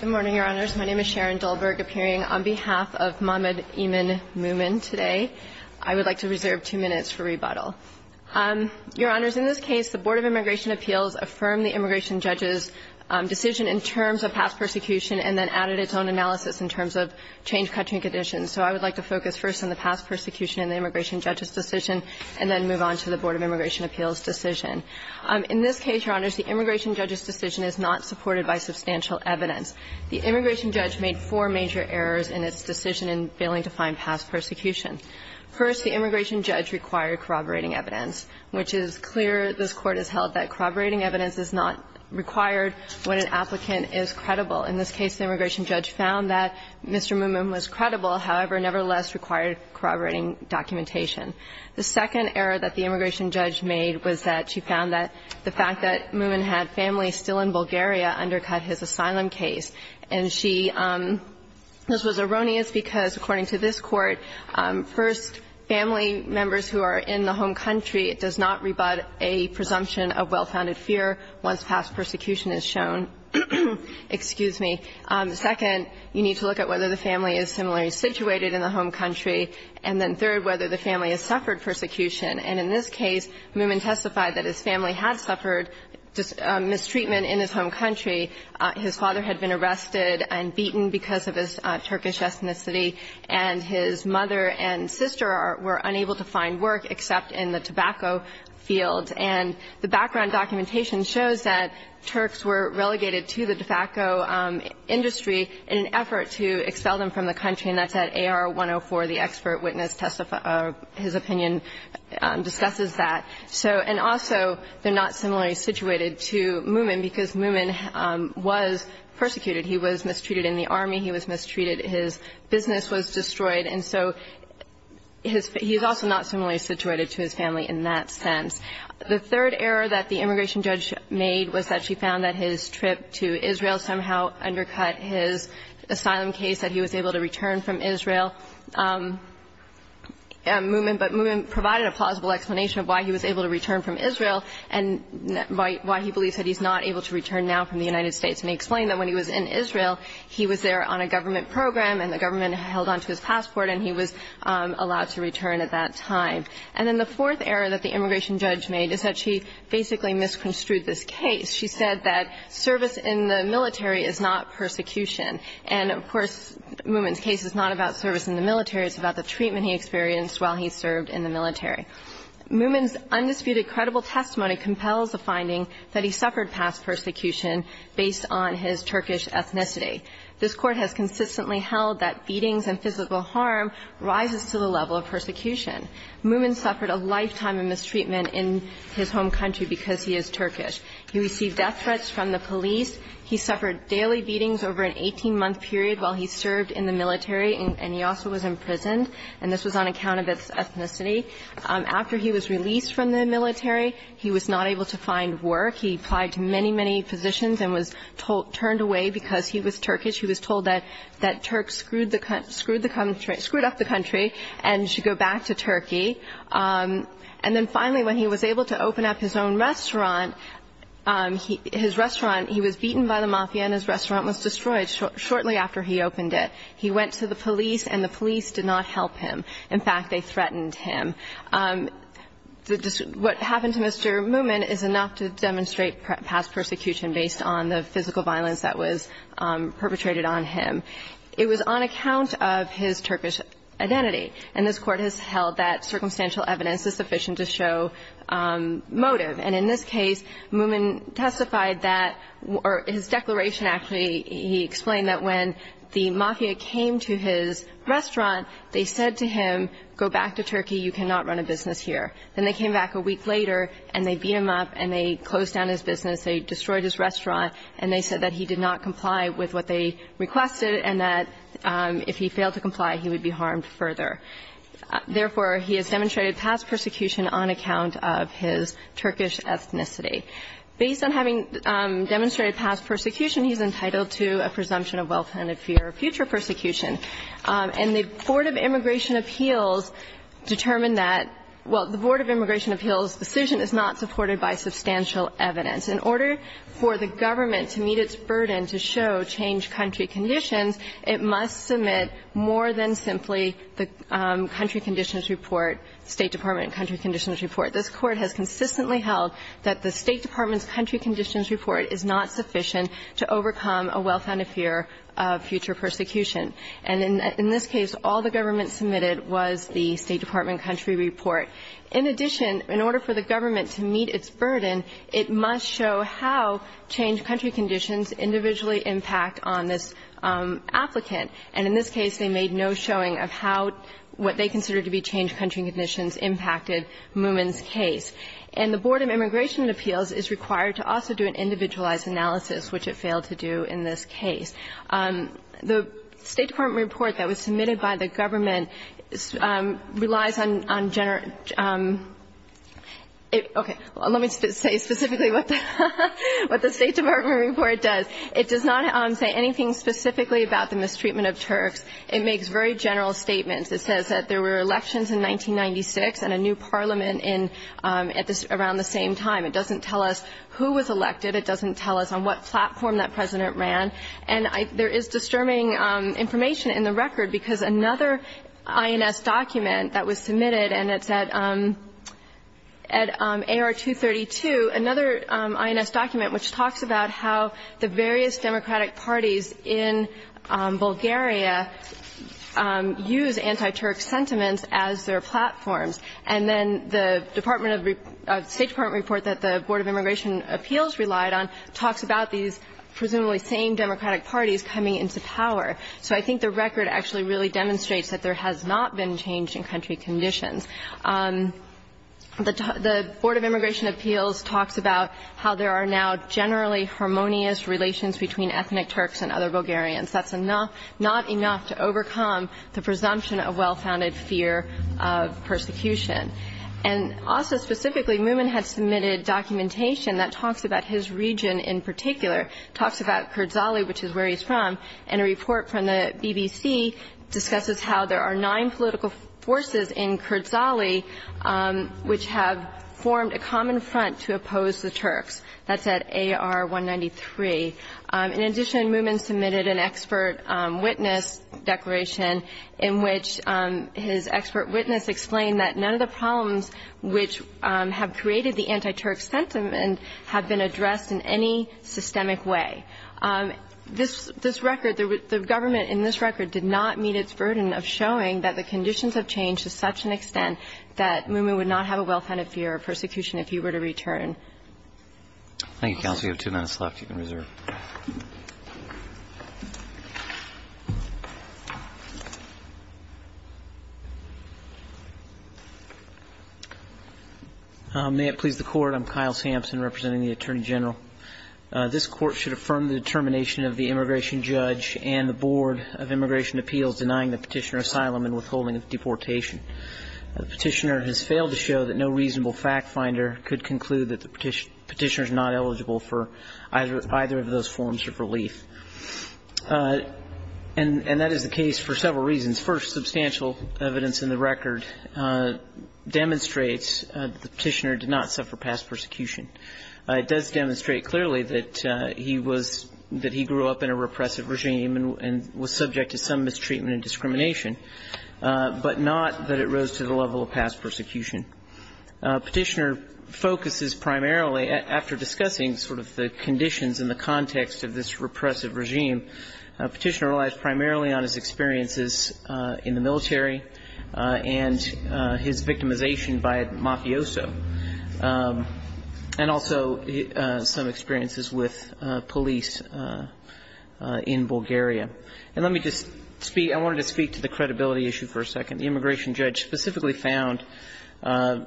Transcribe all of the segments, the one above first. Good morning, Your Honors. My name is Sharon Dulberg, appearing on behalf of Mahmoud Iman Mouman today. I would like to reserve two minutes for rebuttal. Your Honors, in this case, the Board of Immigration Appeals affirmed the immigration judge's decision in terms of past persecution and then added its own analysis in terms of change-cutting conditions. So I would like to focus first on the past persecution in the immigration judge's decision and then move on to the Board of Immigration Appeals' decision. In this case, Your Honors, the immigration judge's decision is not supported by substantial evidence. The immigration judge made four major errors in its decision in failing to find past persecution. First, the immigration judge required corroborating evidence, which is clear. This Court has held that corroborating evidence is not required when an applicant is credible. In this case, the immigration judge found that Mr. Mouman was credible, however, nevertheless required corroborating documentation. The second error that the immigration judge made was that she found that the fact that Mouman had family still in Bulgaria undercut his asylum case. And she – this was erroneous because, according to this Court, first, family members who are in the home country, it does not rebut a presumption of well-founded fear once past persecution is shown. Excuse me. Second, you need to look at whether the family is similarly situated in the home country, and then third, whether the family has suffered persecution. And in this case, Mouman testified that his family had suffered mistreatment in his home country. His father had been arrested and beaten because of his Turkish ethnicity, and his mother and sister were unable to find work except in the tobacco field. And the background documentation shows that Turks were relegated to the tobacco industry in an effort to expel them from the country, and that's at AR-104. The expert witness testified – his opinion discusses that. So – and also, they're not similarly situated to Mouman because Mouman was persecuted. He was mistreated in the army. He was mistreated. His business was destroyed. And so his – he's also not similarly situated to his family in that sense. The third error that the immigration judge made was that she found that his trip to Israel somehow undercut his asylum case, that he was able to return from Israel. Mouman – but Mouman provided a plausible explanation of why he was able to return from Israel and why he believes that he's not able to return now from the United States. And he explained that when he was in Israel, he was there on a government program, and the government held onto his passport, and he was allowed to return at that time. And then the fourth error that the immigration judge made is that she basically misconstrued this case. She said that service in the military is not persecution. And, of course, Mouman's case is not about service in the military. It's about the treatment he experienced while he served in the military. Mouman's undisputed, credible testimony compels the finding that he suffered past persecution based on his Turkish ethnicity. This Court has consistently held that beatings and physical harm rises to the level of persecution. Mouman suffered a lifetime of mistreatment in his home country because he is Turkish. He received death threats from the police. He suffered daily beatings over an 18-month period while he served in the military, and he also was imprisoned. And this was on account of his ethnicity. After he was released from the military, he was not able to find work. He applied to many, many positions and was turned away because he was Turkish. He was told that Turks screwed the country up, screwed up the country and should go back to Turkey. And then finally, when he was able to open up his own restaurant, his restaurant, he was beaten by the mafia and his restaurant was destroyed shortly after he opened it. He went to the police and the police did not help him. In fact, they threatened him. What happened to Mr. Mouman is enough to demonstrate past persecution based on the physical violence that was perpetrated on him. It was on account of his Turkish identity. And this court has held that circumstantial evidence is sufficient to show motive. And in this case, Mouman testified that, or his declaration, actually, he explained that when the mafia came to his restaurant, they said to him, go back to Turkey, you cannot run a business here. Then they came back a week later and they beat him up and they closed down his business, they destroyed his restaurant. And they said that he did not comply with what they requested and that if he failed to comply, he would be harmed further. Therefore, he has demonstrated past persecution on account of his Turkish ethnicity. Based on having demonstrated past persecution, he's entitled to a presumption of well-planned fear of future persecution. And the Board of Immigration Appeals determined that, well, the Board of Immigration Appeals' decision is not supported by substantial evidence. In order for the government to meet its burden to show changed country conditions, it must submit more than simply the country conditions report, State Department country conditions report. This court has consistently held that the State Department's country conditions report is not sufficient to overcome a well-planned fear of future persecution. And in this case, all the government submitted was the State Department country report. In addition, in order for the government to meet its burden, it must show how changed country conditions individually impact on this applicant. And in this case, they made no showing of how what they considered to be changed country conditions impacted Moomin's case. And the Board of Immigration Appeals is required to also do an individualized analysis, which it failed to do in this case. The State Department report that was submitted by the government relies on general statements. It does not say anything specifically about the mistreatment of Turks. It makes very general statements. It says that there were elections in 1996 and a new parliament in at this ‑‑ around the same time. It doesn't tell us who was elected. It doesn't tell us on what platform that president ran. And there is disturbing information in the record, because another INS document at AR 232, another INS document which talks about how the various democratic parties in Bulgaria use anti‑Turk sentiments as their platforms. And then the State Department report that the Board of Immigration Appeals relied on talks about these presumably same democratic parties coming into power. So I think the record actually really demonstrates that there has not been change in country conditions. The Board of Immigration Appeals talks about how there are now generally harmonious relations between ethnic Turks and other Bulgarians. That's not enough to overcome the presumption of well‑founded fear of persecution. And also specifically, Mumin had submitted documentation that talks about his region in particular, talks about Kurdzali, which is where he's from, and a report from the forces in Kurdzali, which have formed a common front to oppose the Turks. That's at AR 193. In addition, Mumin submitted an expert witness declaration in which his expert witness explained that none of the problems which have created the anti‑Turk sentiment have been addressed in any systemic way. This record, the government in this record did not meet its burden of showing that the conditions have changed to such an extent that Mumin would not have a well‑founded fear of persecution if he were to return. Thank you, counsel. You have two minutes left. You can reserve. May it please the Court. I'm Kyle Sampson representing the Attorney General. This Court should affirm the determination of the immigration judge and the Board of Immigration Appeals denying the Petitioner asylum and withholding of deportation. The Petitioner has failed to show that no reasonable fact finder could conclude that the Petitioner is not eligible for either of those forms of relief. And that is the case for several reasons. First, substantial evidence in the record demonstrates the Petitioner did not suffer past persecution. It does demonstrate clearly that he was ‑‑ that he grew up in a repressive regime and was subject to some mistreatment and discrimination. But not that it rose to the level of past persecution. Petitioner focuses primarily, after discussing sort of the conditions and the context of this repressive regime, Petitioner relies primarily on his experiences in the military and his victimization by a mafioso. And also some experiences with police in Bulgaria. And let me just speak ‑‑ I wanted to speak to the credibility issue for a second. The immigration judge specifically found,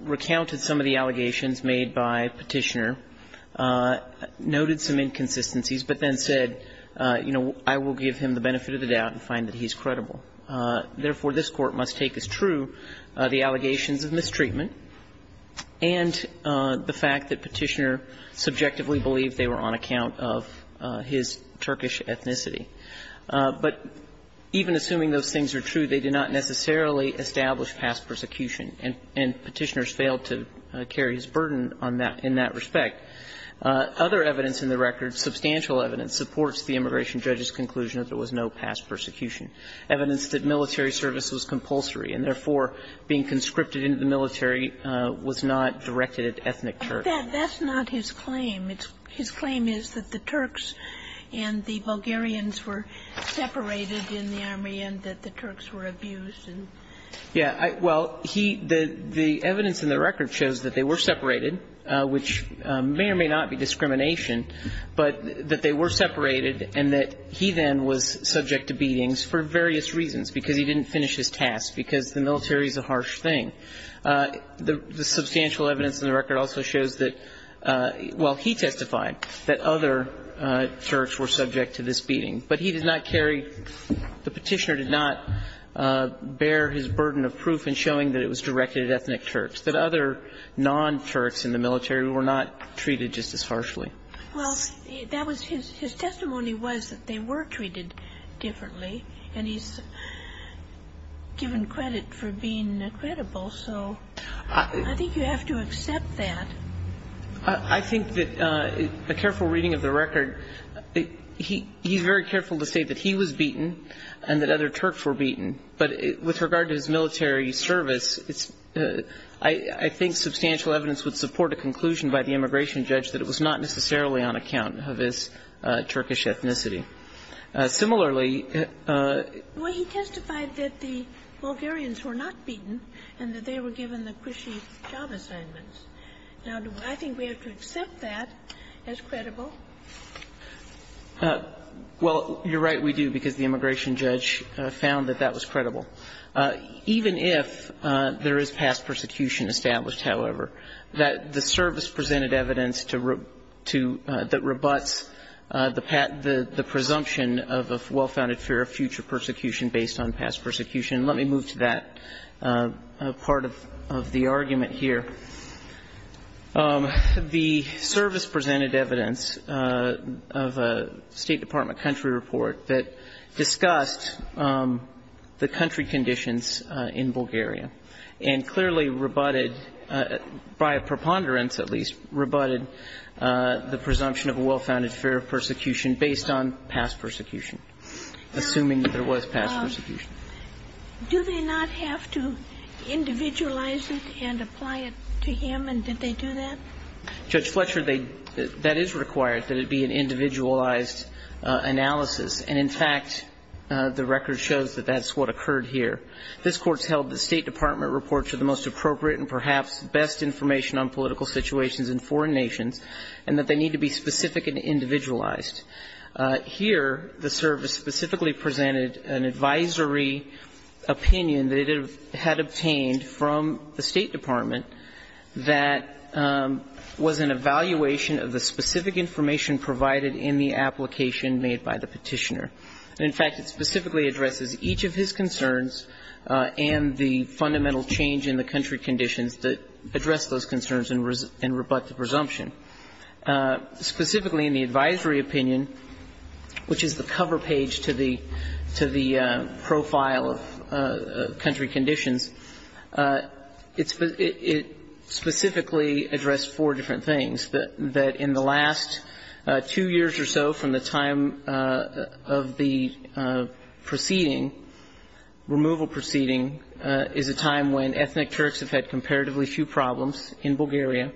recounted some of the allegations made by Petitioner, noted some inconsistencies, but then said, you know, I will give him the benefit of the doubt and find that he's credible. Therefore, this Court must take as true the allegations of mistreatment, and the fact that Petitioner subjectively believed they were on account of his Turkish ethnicity. But even assuming those things are true, they did not necessarily establish past persecution, and Petitioner's failed to carry his burden on that ‑‑ in that respect. Other evidence in the record, substantial evidence, supports the immigration judge's conclusion that there was no past persecution. Evidence that military service was compulsory and, therefore, being conscripted and the military was not directed at ethnic Turks. But that's not his claim. His claim is that the Turks and the Bulgarians were separated in the army and that the Turks were abused and ‑‑ Yeah. Well, he ‑‑ the evidence in the record shows that they were separated, which may or may not be discrimination, but that they were separated and that he then was subject to beatings for various reasons, because he didn't finish his task, because the military is a harsh thing. The substantial evidence in the record also shows that ‑‑ well, he testified that other Turks were subject to this beating. But he did not carry ‑‑ the Petitioner did not bear his burden of proof in showing that it was directed at ethnic Turks, that other non‑Turks in the military were not treated just as harshly. Well, that was his ‑‑ his testimony was that they were treated differently, and he's given credit for being credible. So I think you have to accept that. I think that a careful reading of the record, he's very careful to say that he was beaten and that other Turks were beaten, but with regard to his military service, I think substantial evidence would support a conclusion by the immigration judge that it was not necessarily on account of his Turkish ethnicity. Similarly ‑‑ Well, he testified that the Bulgarians were not beaten and that they were given the cushy job assignments. Now, do I think we have to accept that as credible? Well, you're right, we do, because the immigration judge found that that was credible. Even if there is past persecution established, however, that the service presented evidence to ‑‑ that rebuts the presumption of well‑founded fear of future persecution based on past persecution. Let me move to that part of the argument here. The service presented evidence of a State Department country report that discussed the country conditions in Bulgaria and clearly rebutted, by a preponderance at least, rebutted the presumption of a well‑founded fear of persecution based on past persecution, assuming that there was past persecution. Do they not have to individualize it and apply it to him, and did they do that? Judge Fletcher, that is required, that it be an individualized analysis. And, in fact, the record shows that that's what occurred here. This Court's held that State Department reports are the most appropriate and perhaps best information on political situations in foreign nations and that they need to be specific and individualized. Here, the service specifically presented an advisory opinion that it had obtained from the State Department that was an evaluation of the specific information provided in the application made by the Petitioner. And, in fact, it specifically addresses each of his concerns and the fundamental change in the country conditions that address those concerns and rebut the presumption. Specifically, in the advisory opinion, which is the cover page to the profile of country conditions, it specifically addressed four different things, that in the last two years or so from the time of the proceeding, removal proceeding is a time when ethnic Turks have had comparatively few problems in Bulgaria,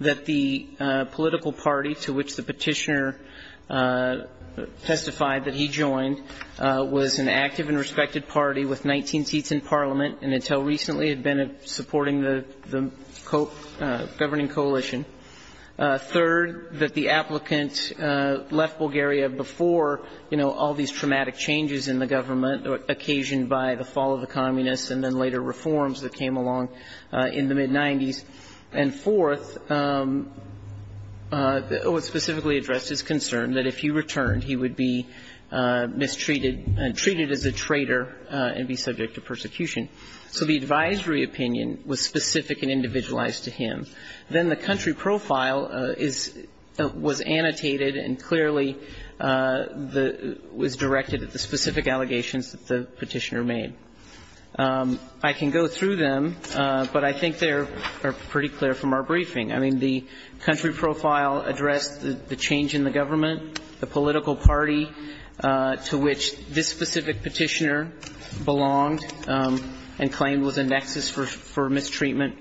that the political party to which the Petitioner testified that he joined was an active and respected party with 19 seats in Parliament and until recently had been supporting the governing coalition. Third, that the applicant left Bulgaria before, you know, all these traumatic changes in the government occasioned by the fall of the Communists and then later reforms that came along in the mid-'90s. And fourth, it specifically addressed his concern that if he returned, he would be mistreated and treated as a traitor and be subject to persecution. So the advisory opinion was specific and individualized to him. Then the country profile was annotated and clearly was directed at the specific allegations that the Petitioner made. I can go through them, but I think they are pretty clear from our briefing. I mean, the country profile addressed the change in the government, the political party to which this specific Petitioner belonged and claimed was a nexus for mistreatment,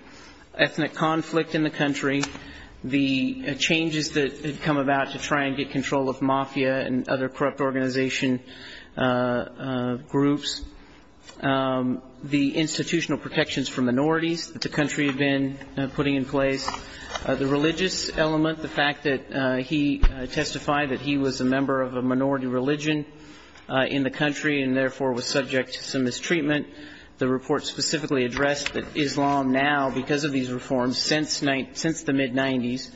ethnic conflict in the country, the changes that had come about to try and get control of mafia and other corrupt organization groups, the institutional protections for minorities that the country had been putting in place, the religious element, the fact that he testified that he was a member of a minority religion in the country and was subject to mistreatment. The report specifically addressed that Islam now, because of these reforms since the mid-'90s,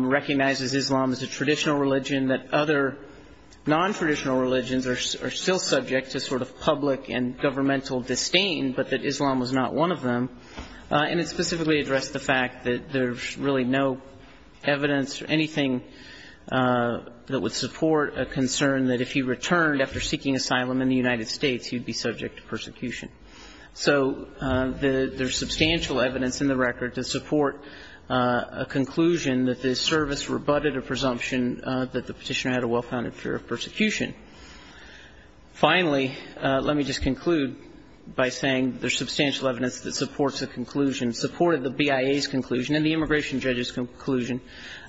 recognizes Islam as a traditional religion, that other non-traditional religions are still subject to sort of public and governmental disdain, but that Islam was not one of them. And it specifically addressed the fact that there's really no evidence or anything that would suggest that the Petitioner was subject to persecution. So there's substantial evidence in the record to support a conclusion that this service rebutted a presumption that the Petitioner had a well-founded fear of persecution. Finally, let me just conclude by saying there's substantial evidence that supports a conclusion, supported the BIA's conclusion and the immigration judge's conclusion,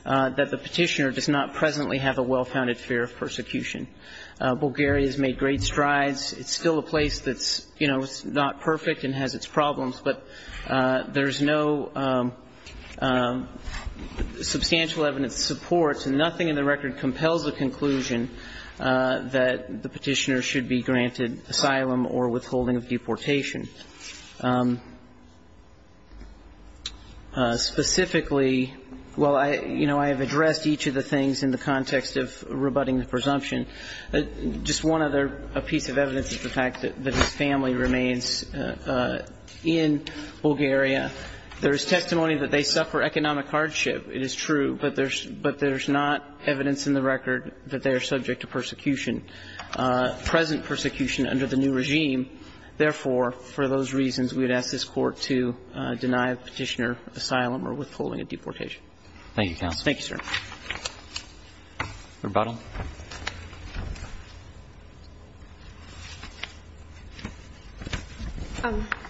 that the Petitioner does not presently have a well-founded fear of persecution. Bulgaria has made great strides. It's still a place that's, you know, not perfect and has its problems, but there's no substantial evidence to support, and nothing in the record compels a conclusion, that the Petitioner should be granted asylum or withholding of deportation. Specifically, well, you know, I have addressed each of the things in the context of rebutting the presumption. Just one other piece of evidence is the fact that his family remains in Bulgaria. There is testimony that they suffer economic hardship. It is true, but there's not evidence in the record that they are subject to persecution, present persecution under the new regime. Therefore, for those reasons, we would ask this Court to deny the Petitioner asylum or withholding of deportation. Thank you, counsel. Thank you, sir. Rebuttal.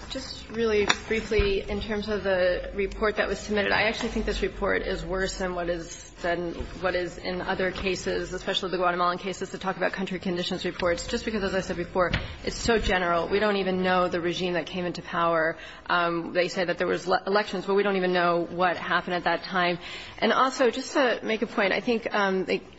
Just really briefly, in terms of the report that was submitted, I actually think this report is worse than what is in other cases, especially the Guatemalan cases, to talk about country conditions reports, just because, as I said before, it's so general. We don't even know the regime that came into power. They say that there was elections, but we don't even know what happened at that time. And also, just to make a point, I think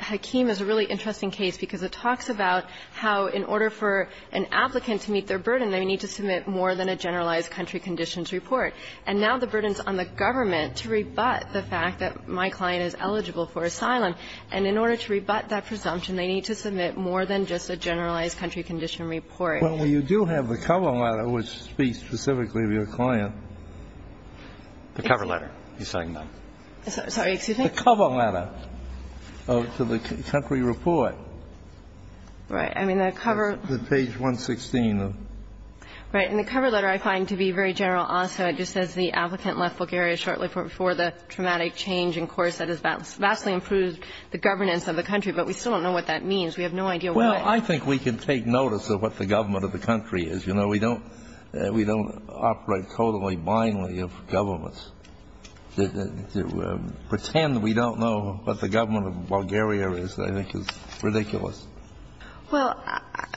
Hakim is a really interesting case because it talks about how in order for an applicant to meet their burden, they need to submit more than a generalized country conditions report. And now the burden is on the government to rebut the fact that my client is eligible for asylum. And in order to rebut that presumption, they need to submit more than just a generalized country condition report. Well, you do have the cover letter, which speaks specifically to your client. The cover letter, you're saying? Sorry. Excuse me? The cover letter to the country report. Right. I mean, the cover. Page 116. Right. And the cover letter, I find to be very general also. It just says the applicant left Bulgaria shortly before the traumatic change in course that has vastly improved the governance of the country. But we still don't know what that means. We have no idea why. Well, I think we can take notice of what the government of the country is. You know, we don't operate totally blindly of governments. To pretend we don't know what the government of Bulgaria is, I think, is ridiculous. Well,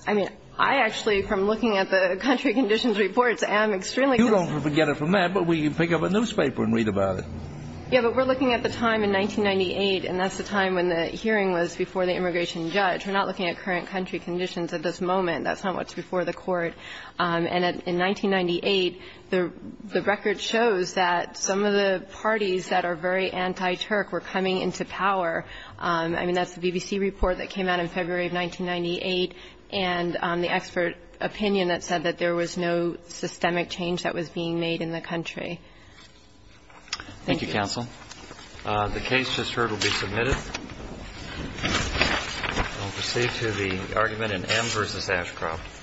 I mean, I actually, from looking at the country conditions reports, am extremely concerned. You don't forget it from that, but we pick up a newspaper and read about it. Yeah, but we're looking at the time in 1998, and that's the time when the hearing was before the immigration judge. We're not looking at current country conditions at this moment. That's not what's before the court. And in 1998, the record shows that some of the parties that are very anti-Turk were coming into power. I mean, that's the BBC report that came out in February of 1998, and the expert opinion that said that there was no systemic change that was being made in the country. Thank you, counsel. The case just heard will be submitted. We'll proceed to the argument in M v. Ashcroft.